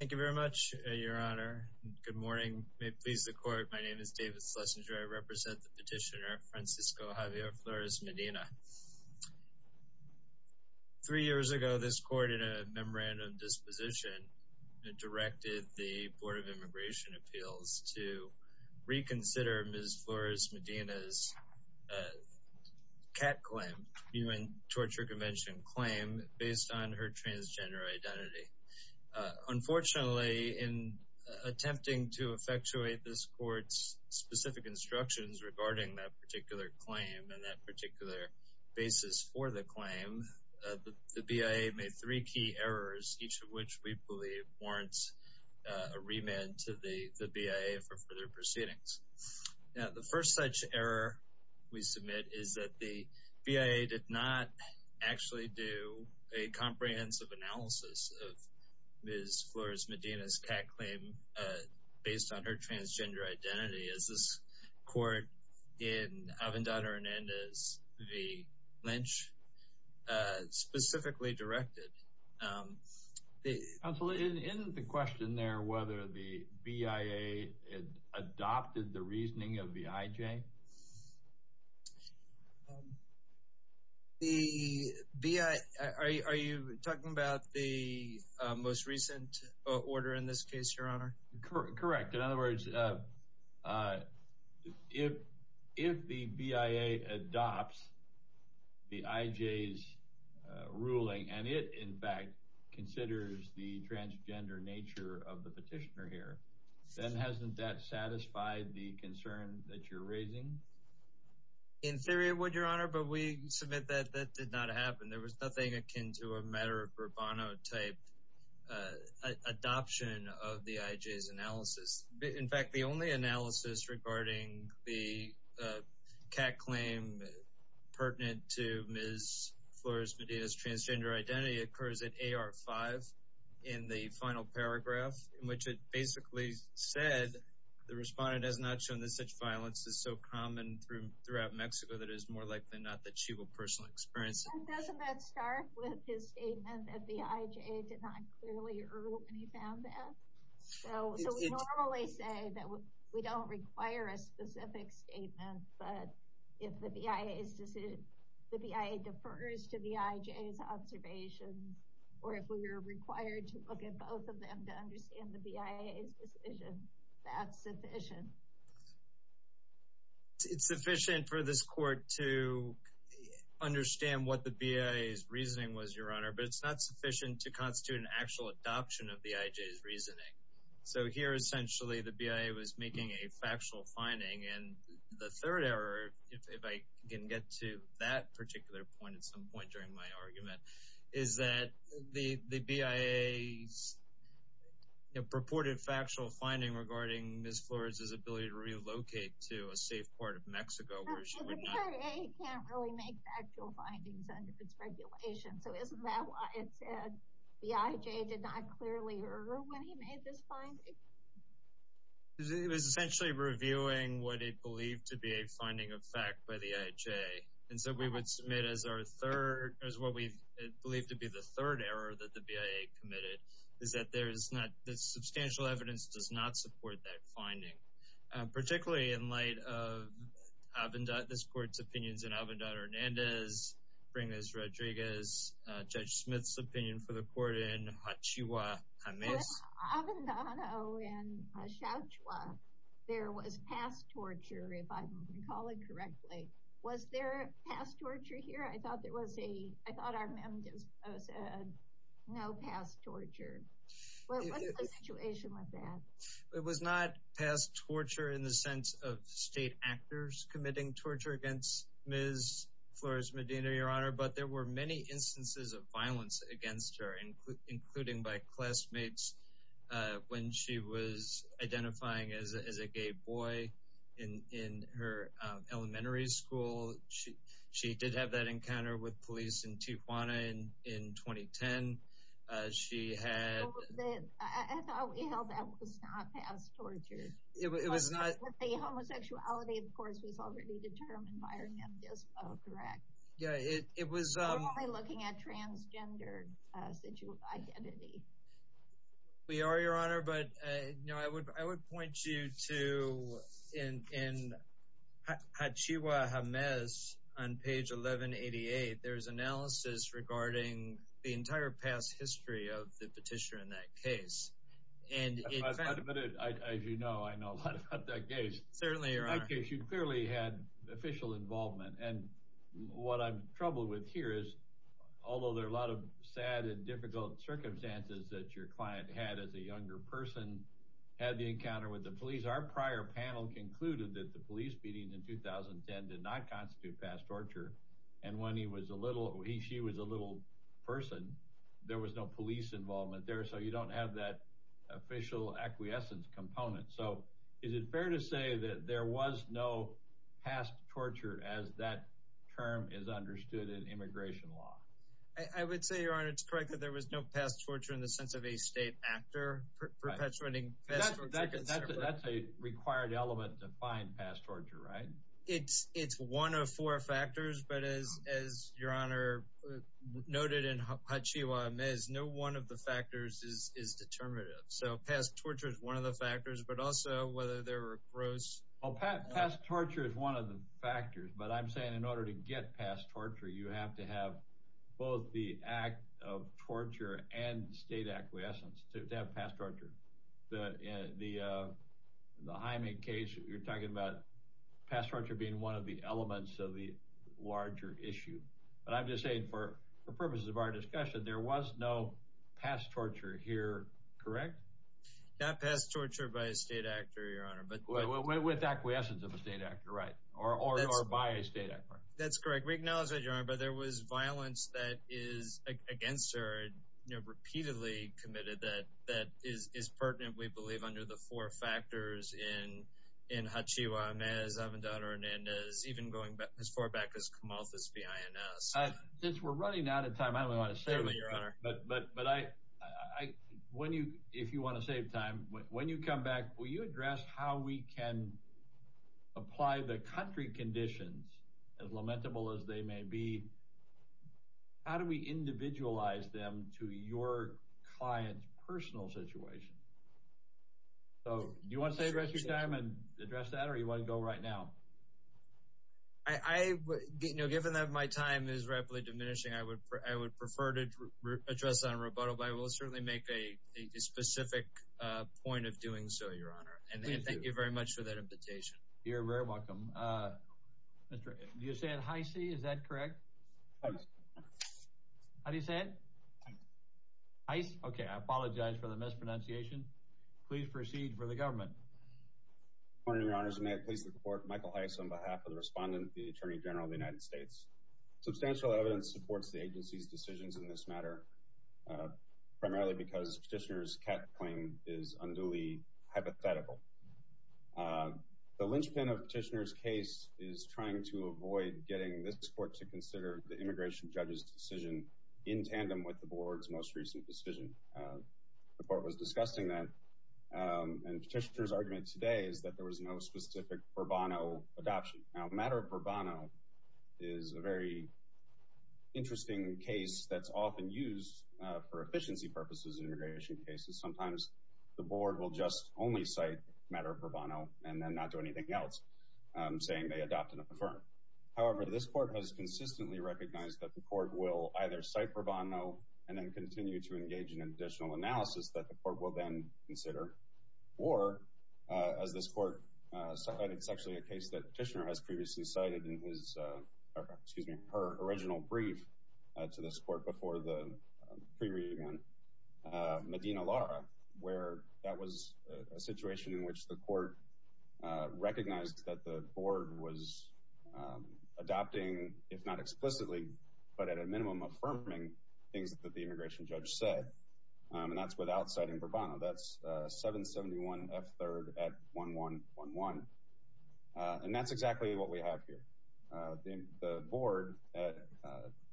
Thank you very much, Your Honor. Good morning. May it please the Court, my name is David Schlesinger. I represent the petitioner, Francisco Javier Flores Medina. Three years ago, this Court, in a memorandum of disposition, directed the Board of Immigration Appeals to reconsider Ms. Flores Medina's CAT claim, Human Torture Convention claim, based on her transgender identity. Unfortunately, in attempting to effectuate this Court's specific instructions regarding that particular claim and that particular basis for the claim, the BIA made three key errors, each of which we believe warrants a remand to the BIA for their proceedings. Now, the first such error we submit is that the BIA did not actually do a comprehensive analysis of Ms. Flores Medina's CAT claim based on her transgender identity, as this Court in Avendad Hernandez v. Lynch specifically directed. Counsel, isn't the question there whether the BIA adopted the reasoning of the IJ? The BIA, are you talking about the most recent order in this case, Your Honor? Correct. In other words, if the BIA adopts the IJ's ruling and it, in fact, considers the transgender nature of the petitioner here, then hasn't that satisfied the concern that you're raising? In theory it would, Your Honor, but we submit that that did not happen. There was no IJ's analysis. In fact, the only analysis regarding the CAT claim pertinent to Ms. Flores Medina's transgender identity occurs at A.R. 5 in the final paragraph, in which it basically said the respondent has not shown that such violence is so common throughout Mexico that it is more likely than not that she will personally experience it. Doesn't that start with his statement that the IJ did not clearly err when he found that? So we normally say that we don't require a specific statement, but if the BIA defers to the IJ's observations, or if we are required to look at both of them to understand the BIA's decision, that's sufficient. It's sufficient for this Court to understand what the BIA's reasoning was, Your Honor, but it's not sufficient to constitute an actual adoption of the IJ's reasoning. So here essentially the BIA was making a factual finding, and the third error, if I can get to that particular point at some point during my argument, is that the BIA's purported factual finding regarding Ms. Flores is ability to relocate to a safe part of Mexico where she would not... The BIA can't really make factual findings under its regulation, so isn't that why it said the IJ did not clearly err when he made this finding? It was essentially reviewing what it believed to be a finding of fact by the IJ, and so we would submit as our third, as what we believe to be the third error that the BIA committed, is that there is not... The substantial evidence does not support that finding, particularly in light of this Court's opinions in Avandano-Hernandez, Pringles-Rodriguez, Judge Smith's opinion for the Court in Hachihua-James. With Avandano and Hachihua, there was past torture, if I'm recalling correctly. Was there past torture here? I thought there was a... I thought our memo said, no past torture. What's the situation with that? It was not past torture in the sense of state actors committing torture against Ms. Flores Medina, Your Honor, but there were many instances of violence against her, including by classmates when she was identifying as a gay boy in her elementary school. She did have that encounter with police in Tijuana in 2010. She had... I thought we held that was not past torture. It was not... But the homosexuality, of course, was already determined by our memo, correct? Yeah, it was... We're only looking at transgender identity. We are, Your Honor, but I would point you to, in Hachihua-James, on page 1188, there's analysis regarding the entire past history of the petitioner in that case. And as you know, I know a lot about that case. Certainly, Your Honor. In that case, you clearly had official involvement. And what I'm troubled with here is, although there are a lot of sad and difficult circumstances that your client had as a younger person, had the encounter with the police, our prior panel concluded that the police beating in 2010 did not constitute past torture. And when he was a little, she was a little person, there was no police involvement there. So you don't have that official acquiescence component. So is it fair to say that there was no past torture as that term is understood in immigration law? I would say, Your Honor, it's correct that there was no past torture in the sense of a state actor perpetuating... That's a required element to find past torture, right? It's one of four factors. But as Your Honor noted in Hachihua-James, no one of the factors is determinative. So past torture is one of the factors, but also whether there were gross... Well, past torture is one of the factors. But I'm saying in order to get past torture, you have to have both the act of torture and state acquiescence to have past torture. The Hyman case, you're talking about past torture being one of the elements of the larger issue. But I'm just saying for purposes of our discussion, there was no past torture here, correct? Not past torture by a state actor, Your Honor. But with acquiescence of a state actor, right? Or by a state actor. That's correct. We acknowledge that, Your Honor. But there was violence that is against her and repeatedly committed that is pertinent, we believe, under the four factors in Hachihua-James, Avendado-Hernandez, even going as far back as Camalthus-Bienes. Since we're running out of time, I don't want to save it, Your Honor. If you want to save time, when you come back, will you address how we can apply the country conditions, as lamentable as they may be, how do we individualize them to your client's personal situation? Do you want to save the rest of your time and address that, or do you want to go right now? Given that my time is rapidly diminishing, I would prefer to address that on rebuttal, but I will certainly make a specific point of doing so, Your Honor. Thank you very much for that invitation. You're very welcome. Do you say it Heise? Is that correct? How do you say it? Heise? Okay. I apologize for the mispronunciation. Please proceed for the government. Good morning, Your Honors. May it please the Court, Michael Heise on behalf of the respondent, the Attorney General of the United States. Substantial evidence supports the agency's matter, primarily because Petitioner's Kett claim is unduly hypothetical. The linchpin of Petitioner's case is trying to avoid getting this Court to consider the immigration judge's decision in tandem with the Board's most recent decision. The Court was discussing that, and Petitioner's argument today is that there was no specific adoption. Now, the matter of Bourbonno is a very interesting case that's often used for efficiency purposes in immigration cases. Sometimes the Board will just only cite the matter of Bourbonno and then not do anything else, saying they adopted a firm. However, this Court has consistently recognized that the Court will either cite Bourbonno and then continue to engage in an additional analysis that the Court will then consider, or, as this Court cited, it's actually a case that Petitioner has previously cited in his, or excuse me, her original brief to this Court before the pre-readment, Medina Lara, where that was a situation in which the Court recognized that the Board was adopting, if not explicitly, but at a minimum affirming things that the immigration judge said, and that's without citing Bourbonno. That's 771 F3rd at 1111, and that's exactly what we have here. The Board, at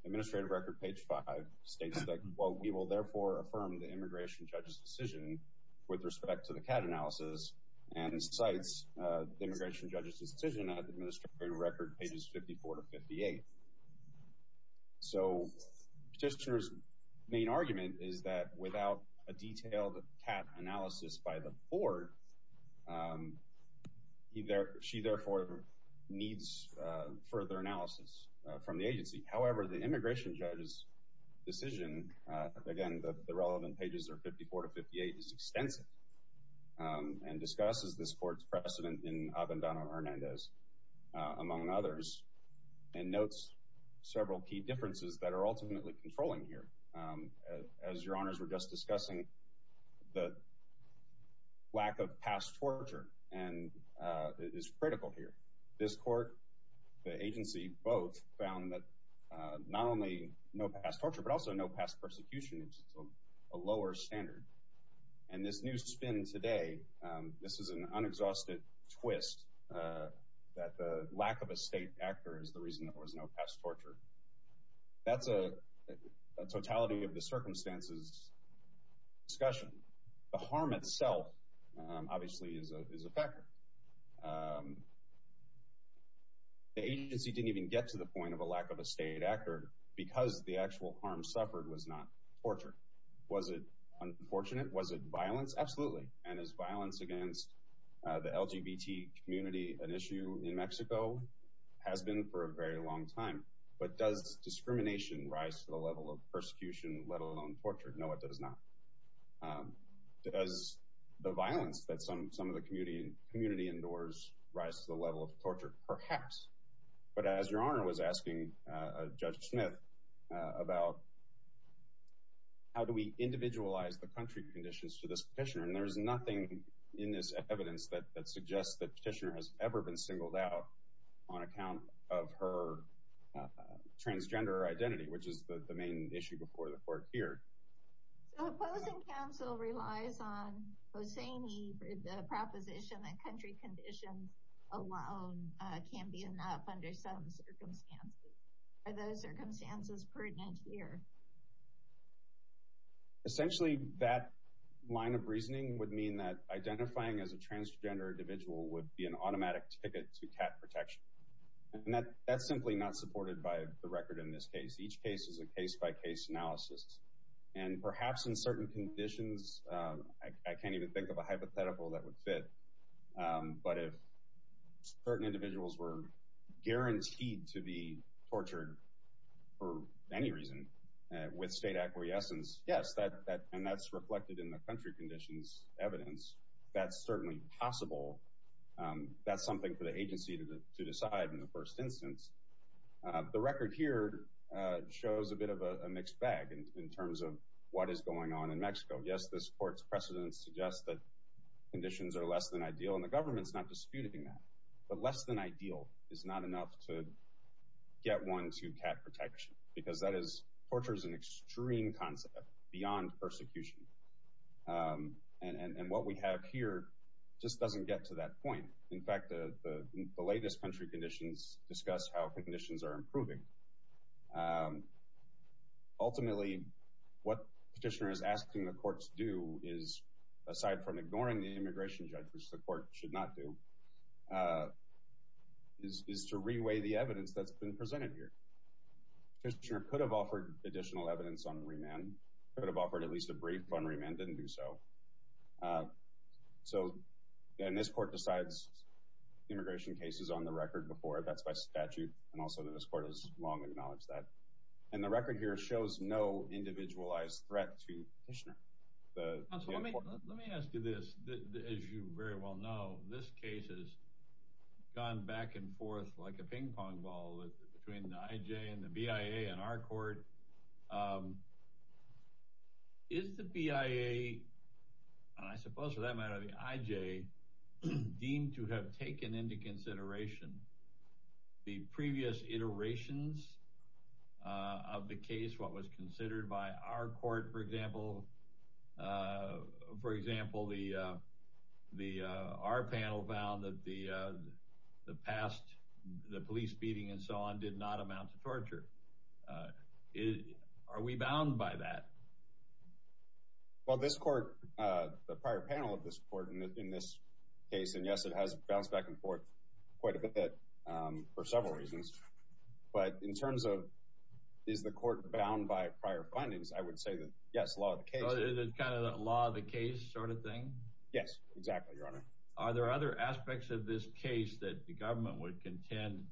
Administrative Record page 5, states that, well, we will therefore affirm the immigration judge's decision with respect to the CAD analysis and cites the immigration judge's without a detailed CAD analysis by the Board. She therefore needs further analysis from the agency. However, the immigration judge's decision, again, the relevant pages are 54 to 58, is extensive and discusses this Court's precedent in Abandono-Hernandez, among others, and notes several key differences that are ultimately controlling here. As Your Honors were just discussing, the lack of past torture is critical here. This Court, the agency, both found that not only no past torture, but also no past persecution is a lower standard, and this new spin today, this is an unexhausted twist that the lack of a state actor is the past torture. That's a totality of the circumstances discussion. The harm itself, obviously, is a factor. The agency didn't even get to the point of a lack of a state actor because the actual harm suffered was not torture. Was it unfortunate? Was it violence? Absolutely, and is violence against the LGBT community an issue in Mexico? Has been for a very long time, but does discrimination rise to the level of persecution, let alone torture? No, it does not. Does the violence that some of the community endures rise to the level of torture? Perhaps, but as Your Honor was asking Judge Smith about how do we individualize the country conditions to this petitioner, and there's nothing in this evidence that suggests that petitioner has ever been singled out on account of her transgender identity, which is the main issue before the Court here. So opposing counsel relies on Hosseini for the proposition that country conditions alone can be enough under some circumstances. Are those circumstances pertinent here? No. Essentially, that line of reasoning would mean that identifying as a transgender individual would be an automatic ticket to cat protection, and that's simply not supported by the record in this case. Each case is a case-by-case analysis, and perhaps in certain conditions, I can't even think of a hypothetical that would fit, but if certain individuals were guaranteed to be tortured for any reason with state acquiescence, yes, and that's reflected in the country conditions evidence, that's certainly possible. That's something for the agency to decide in the first instance. The record here shows a bit of a mixed bag in terms of what is going on in Mexico. Yes, this Court's precedent suggests that conditions are less than ideal, and the government's not disputing that, but less than ideal is not enough to get one to cat protection because that is, torture is an extreme concept beyond persecution, and what we have here just doesn't get to that point. In fact, the latest country conditions discuss how conditions are improving. Ultimately, what Petitioner is asking the Court to do is, aside from ignoring the immigration judge, which the Court should not do, is to re-weigh the evidence that's been presented here. Petitioner could have offered additional evidence on remand, could have offered at least a brief on remand, didn't do so, and this Court decides immigration cases on the record before, that's by statute, and also this Court has long acknowledged that, and the record here shows no individualized threat to Petitioner. Let me ask you this, as you very well know, this case has gone back and forth like a ping pong ball between the IJ and the BIA and our Court. Is the BIA, and I suppose for that matter the IJ, deemed to have taken into consideration the previous iterations of the case, what was considered by our Court, for example, for example, our panel vowed that the past, the police beating and so on, did not amount to torture. Are we bound by that? Well, this Court, the prior panel of this Court in this case, and yes, it has gone back and forth quite a bit for several reasons, but in terms of, is the Court bound by prior findings, I would say that, yes, law of the case. Is it kind of a law of the case sort of thing? Yes, exactly, Your Honor. Are there other aspects of this case that the Government would contend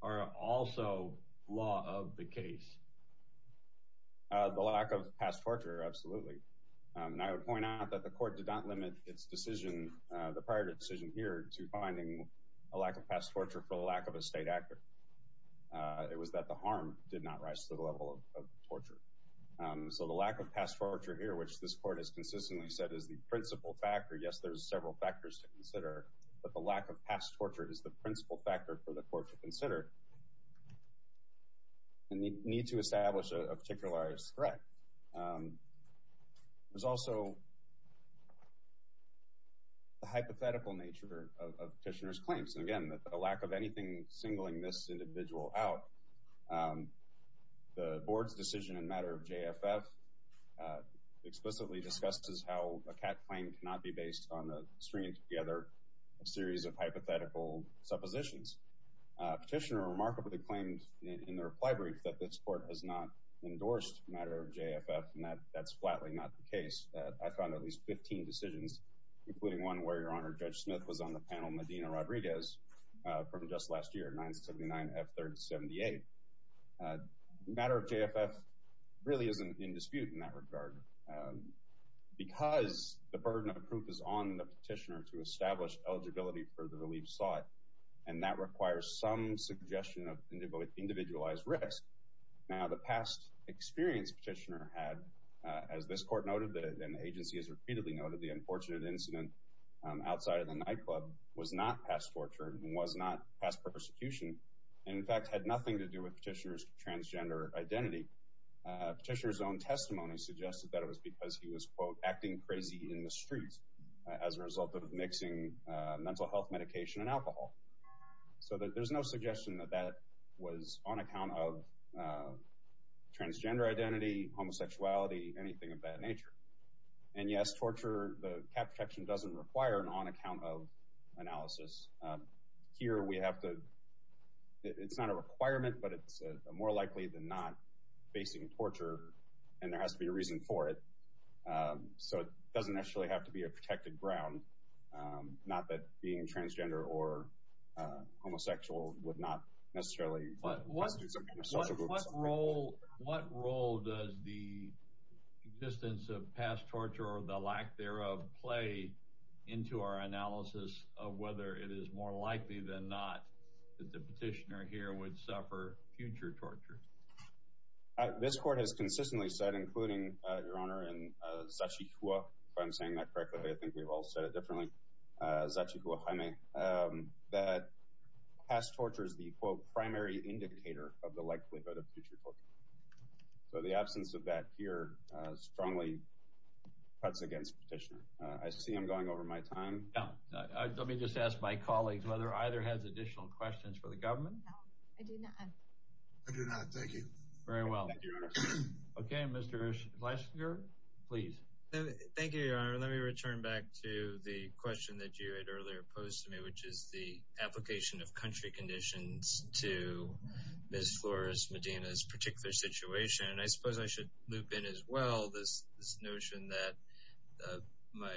are also law of the case? The lack of past torture, absolutely, and I would point out that the Court did not limit its decision, the prior decision here, to finding a lack of past torture for the lack of a state actor. It was that the harm did not rise to the level of torture. So the lack of past torture here, which this Court has consistently said is the principal factor, yes, there's several factors to consider, but the lack of past torture is the principal factor for the Court to consider and need to establish a particularized threat. There's also the hypothetical nature of Petitioner's claims, and again, the lack of anything singling this individual out. The Board's decision in matter of JFF explicitly discusses how a CAT claim cannot be based on a stringing together a series of hypothetical suppositions. Petitioner remarkably claimed in the reply brief that this Court has not endorsed a matter of JFF, and that's flatly not the case. I found at least 15 decisions, including one where Your Honor, Judge Smith, was on the panel, Medina-Rodriguez, from just last year, 979-F3-78. Matter of JFF really isn't in dispute in that regard because the burden of proof is on the Petitioner to establish eligibility for the relief sought, and that requires some suggestion of individualized risk. Now, the past experience Petitioner had, as this Court noted and the agency has repeatedly noted, the unfortunate incident outside of the nightclub was not past torture and was not past persecution, and in fact had nothing to do with Petitioner's transgender identity. Petitioner's own testimony suggested that it was because he was, quote, acting crazy in the streets as a result of mixing mental health medication and alcohol. So there's no suggestion that that was on account of transgender identity, homosexuality, anything of that nature. And yes, torture, the cap protection doesn't require an on-account-of analysis. Here we have to, it's not a requirement, but it's more likely than not facing torture, and there has to be a reason for it. So it doesn't necessarily have to be a protected ground, not that being transgender or homosexual would not necessarily constitute some kind of social group. What role does the existence of past torture or the lack thereof play into our analysis of whether it is more likely than not that the Petitioner here would suffer future torture? This Court has consistently said, including, Your Honor, in Sachihua, if I'm saying that correctly, I think we've all said it differently, Sachihua Jaime, that past torture is the, quote, primary indicator of the likelihood of future torture. So the absence of that here strongly cuts against Petitioner. I see I'm going over my time. Now, let me just ask my colleagues whether either has additional questions for the government. No, I do not. I do not, thank you. Very well. Thank you, Your Honor. Okay, Mr. Schlesinger, please. Thank you, Your Honor. Let me return back to the question that you had earlier posed to me, which is the application of country conditions to Ms. Flores Medina's particular situation. I suppose I should loop in as well this notion that my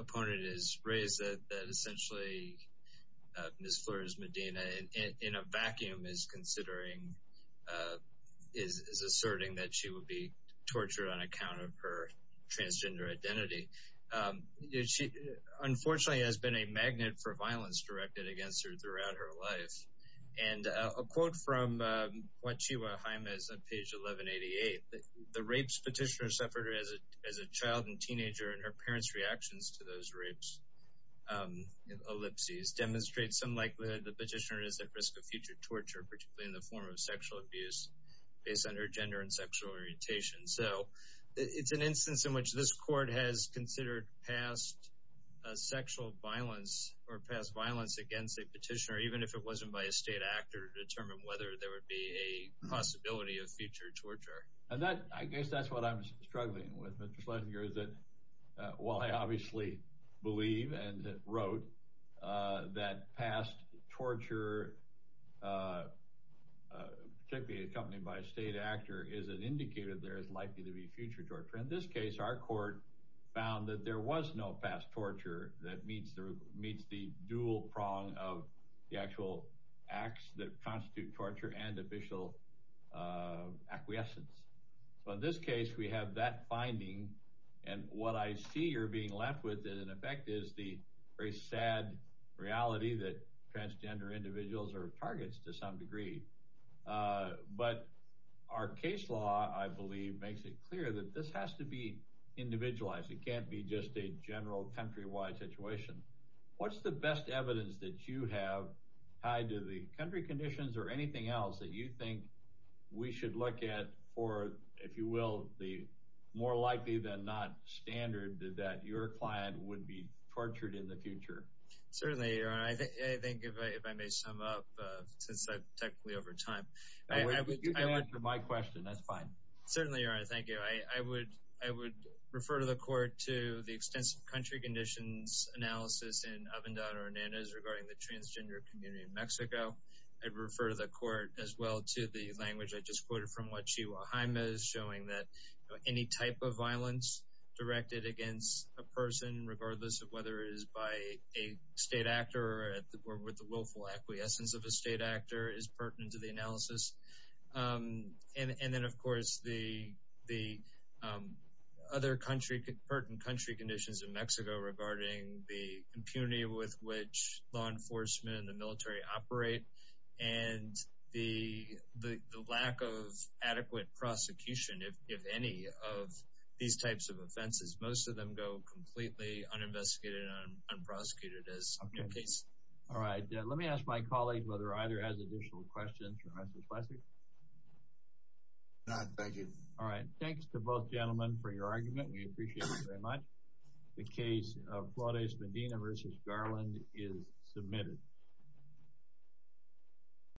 opponent has raised that essentially Ms. Flores Medina, in a vacuum, is asserting that she would be tortured on account of her transgender identity. She, unfortunately, has been a magnet for violence directed against her throughout her life. And a quote from Sachihua Jaime is on page 1188. The rapes Petitioner suffered as a child and teenager and her parents' reactions to those rapes ellipses demonstrate some likelihood that Petitioner is at risk of future torture, particularly in the form of sexual abuse based on her gender and sexual orientation. So it's an instance in which this court has considered past sexual violence or past violence against a petitioner, even if it wasn't by a state actor, to determine whether there would be a possibility of future torture. And I guess that's what I'm struggling with, Mr. Schlesinger, is that while I obviously believe and wrote that past torture, particularly accompanied by a state actor, is an indicator there is likely to be future torture. In this case, our court found that there was no past torture that meets the dual prong of the actual acts that constitute torture and official acquiescence. So in this case, we have that finding. And what I see you're being left with, in effect, is the very sad reality that transgender individuals are targets to some degree. But our case law, I believe, makes it clear that this has to be individualized. It can't be just a general countrywide situation. What's the best evidence that you have tied to the country conditions or anything else that you think we should look at for, if you will, the more likely than not standard that your client would be tortured in the future? Certainly, Your Honor. I think, if I may sum up, since I'm technically over time. Oh, you can answer my question. That's fine. Certainly, Your Honor. Thank you. I would refer to the court to the extensive country conditions analysis in Ovendada-Hernandez regarding the transgender community in Mexico. I'd refer to the court as well to the language I just quoted from Wachihua-Jaimes showing that any type of violence directed against a person, regardless of whether it is by a state actor or with the willful acquiescence of a state actor, is pertinent to the analysis. And then, of course, the other pertinent country conditions in Mexico regarding the impunity with which law enforcement and the military operate and the lack of adequate prosecution, if any, of these types of offenses. Most of them go completely uninvestigated and unprosecuted as subject case. All right. Let me ask my colleague whether either has additional questions for Justice Lessig. None. Thank you. All right. Thanks to both gentlemen for your argument. We appreciate it very much. The case of Flores-Medina v. Garland is submitted.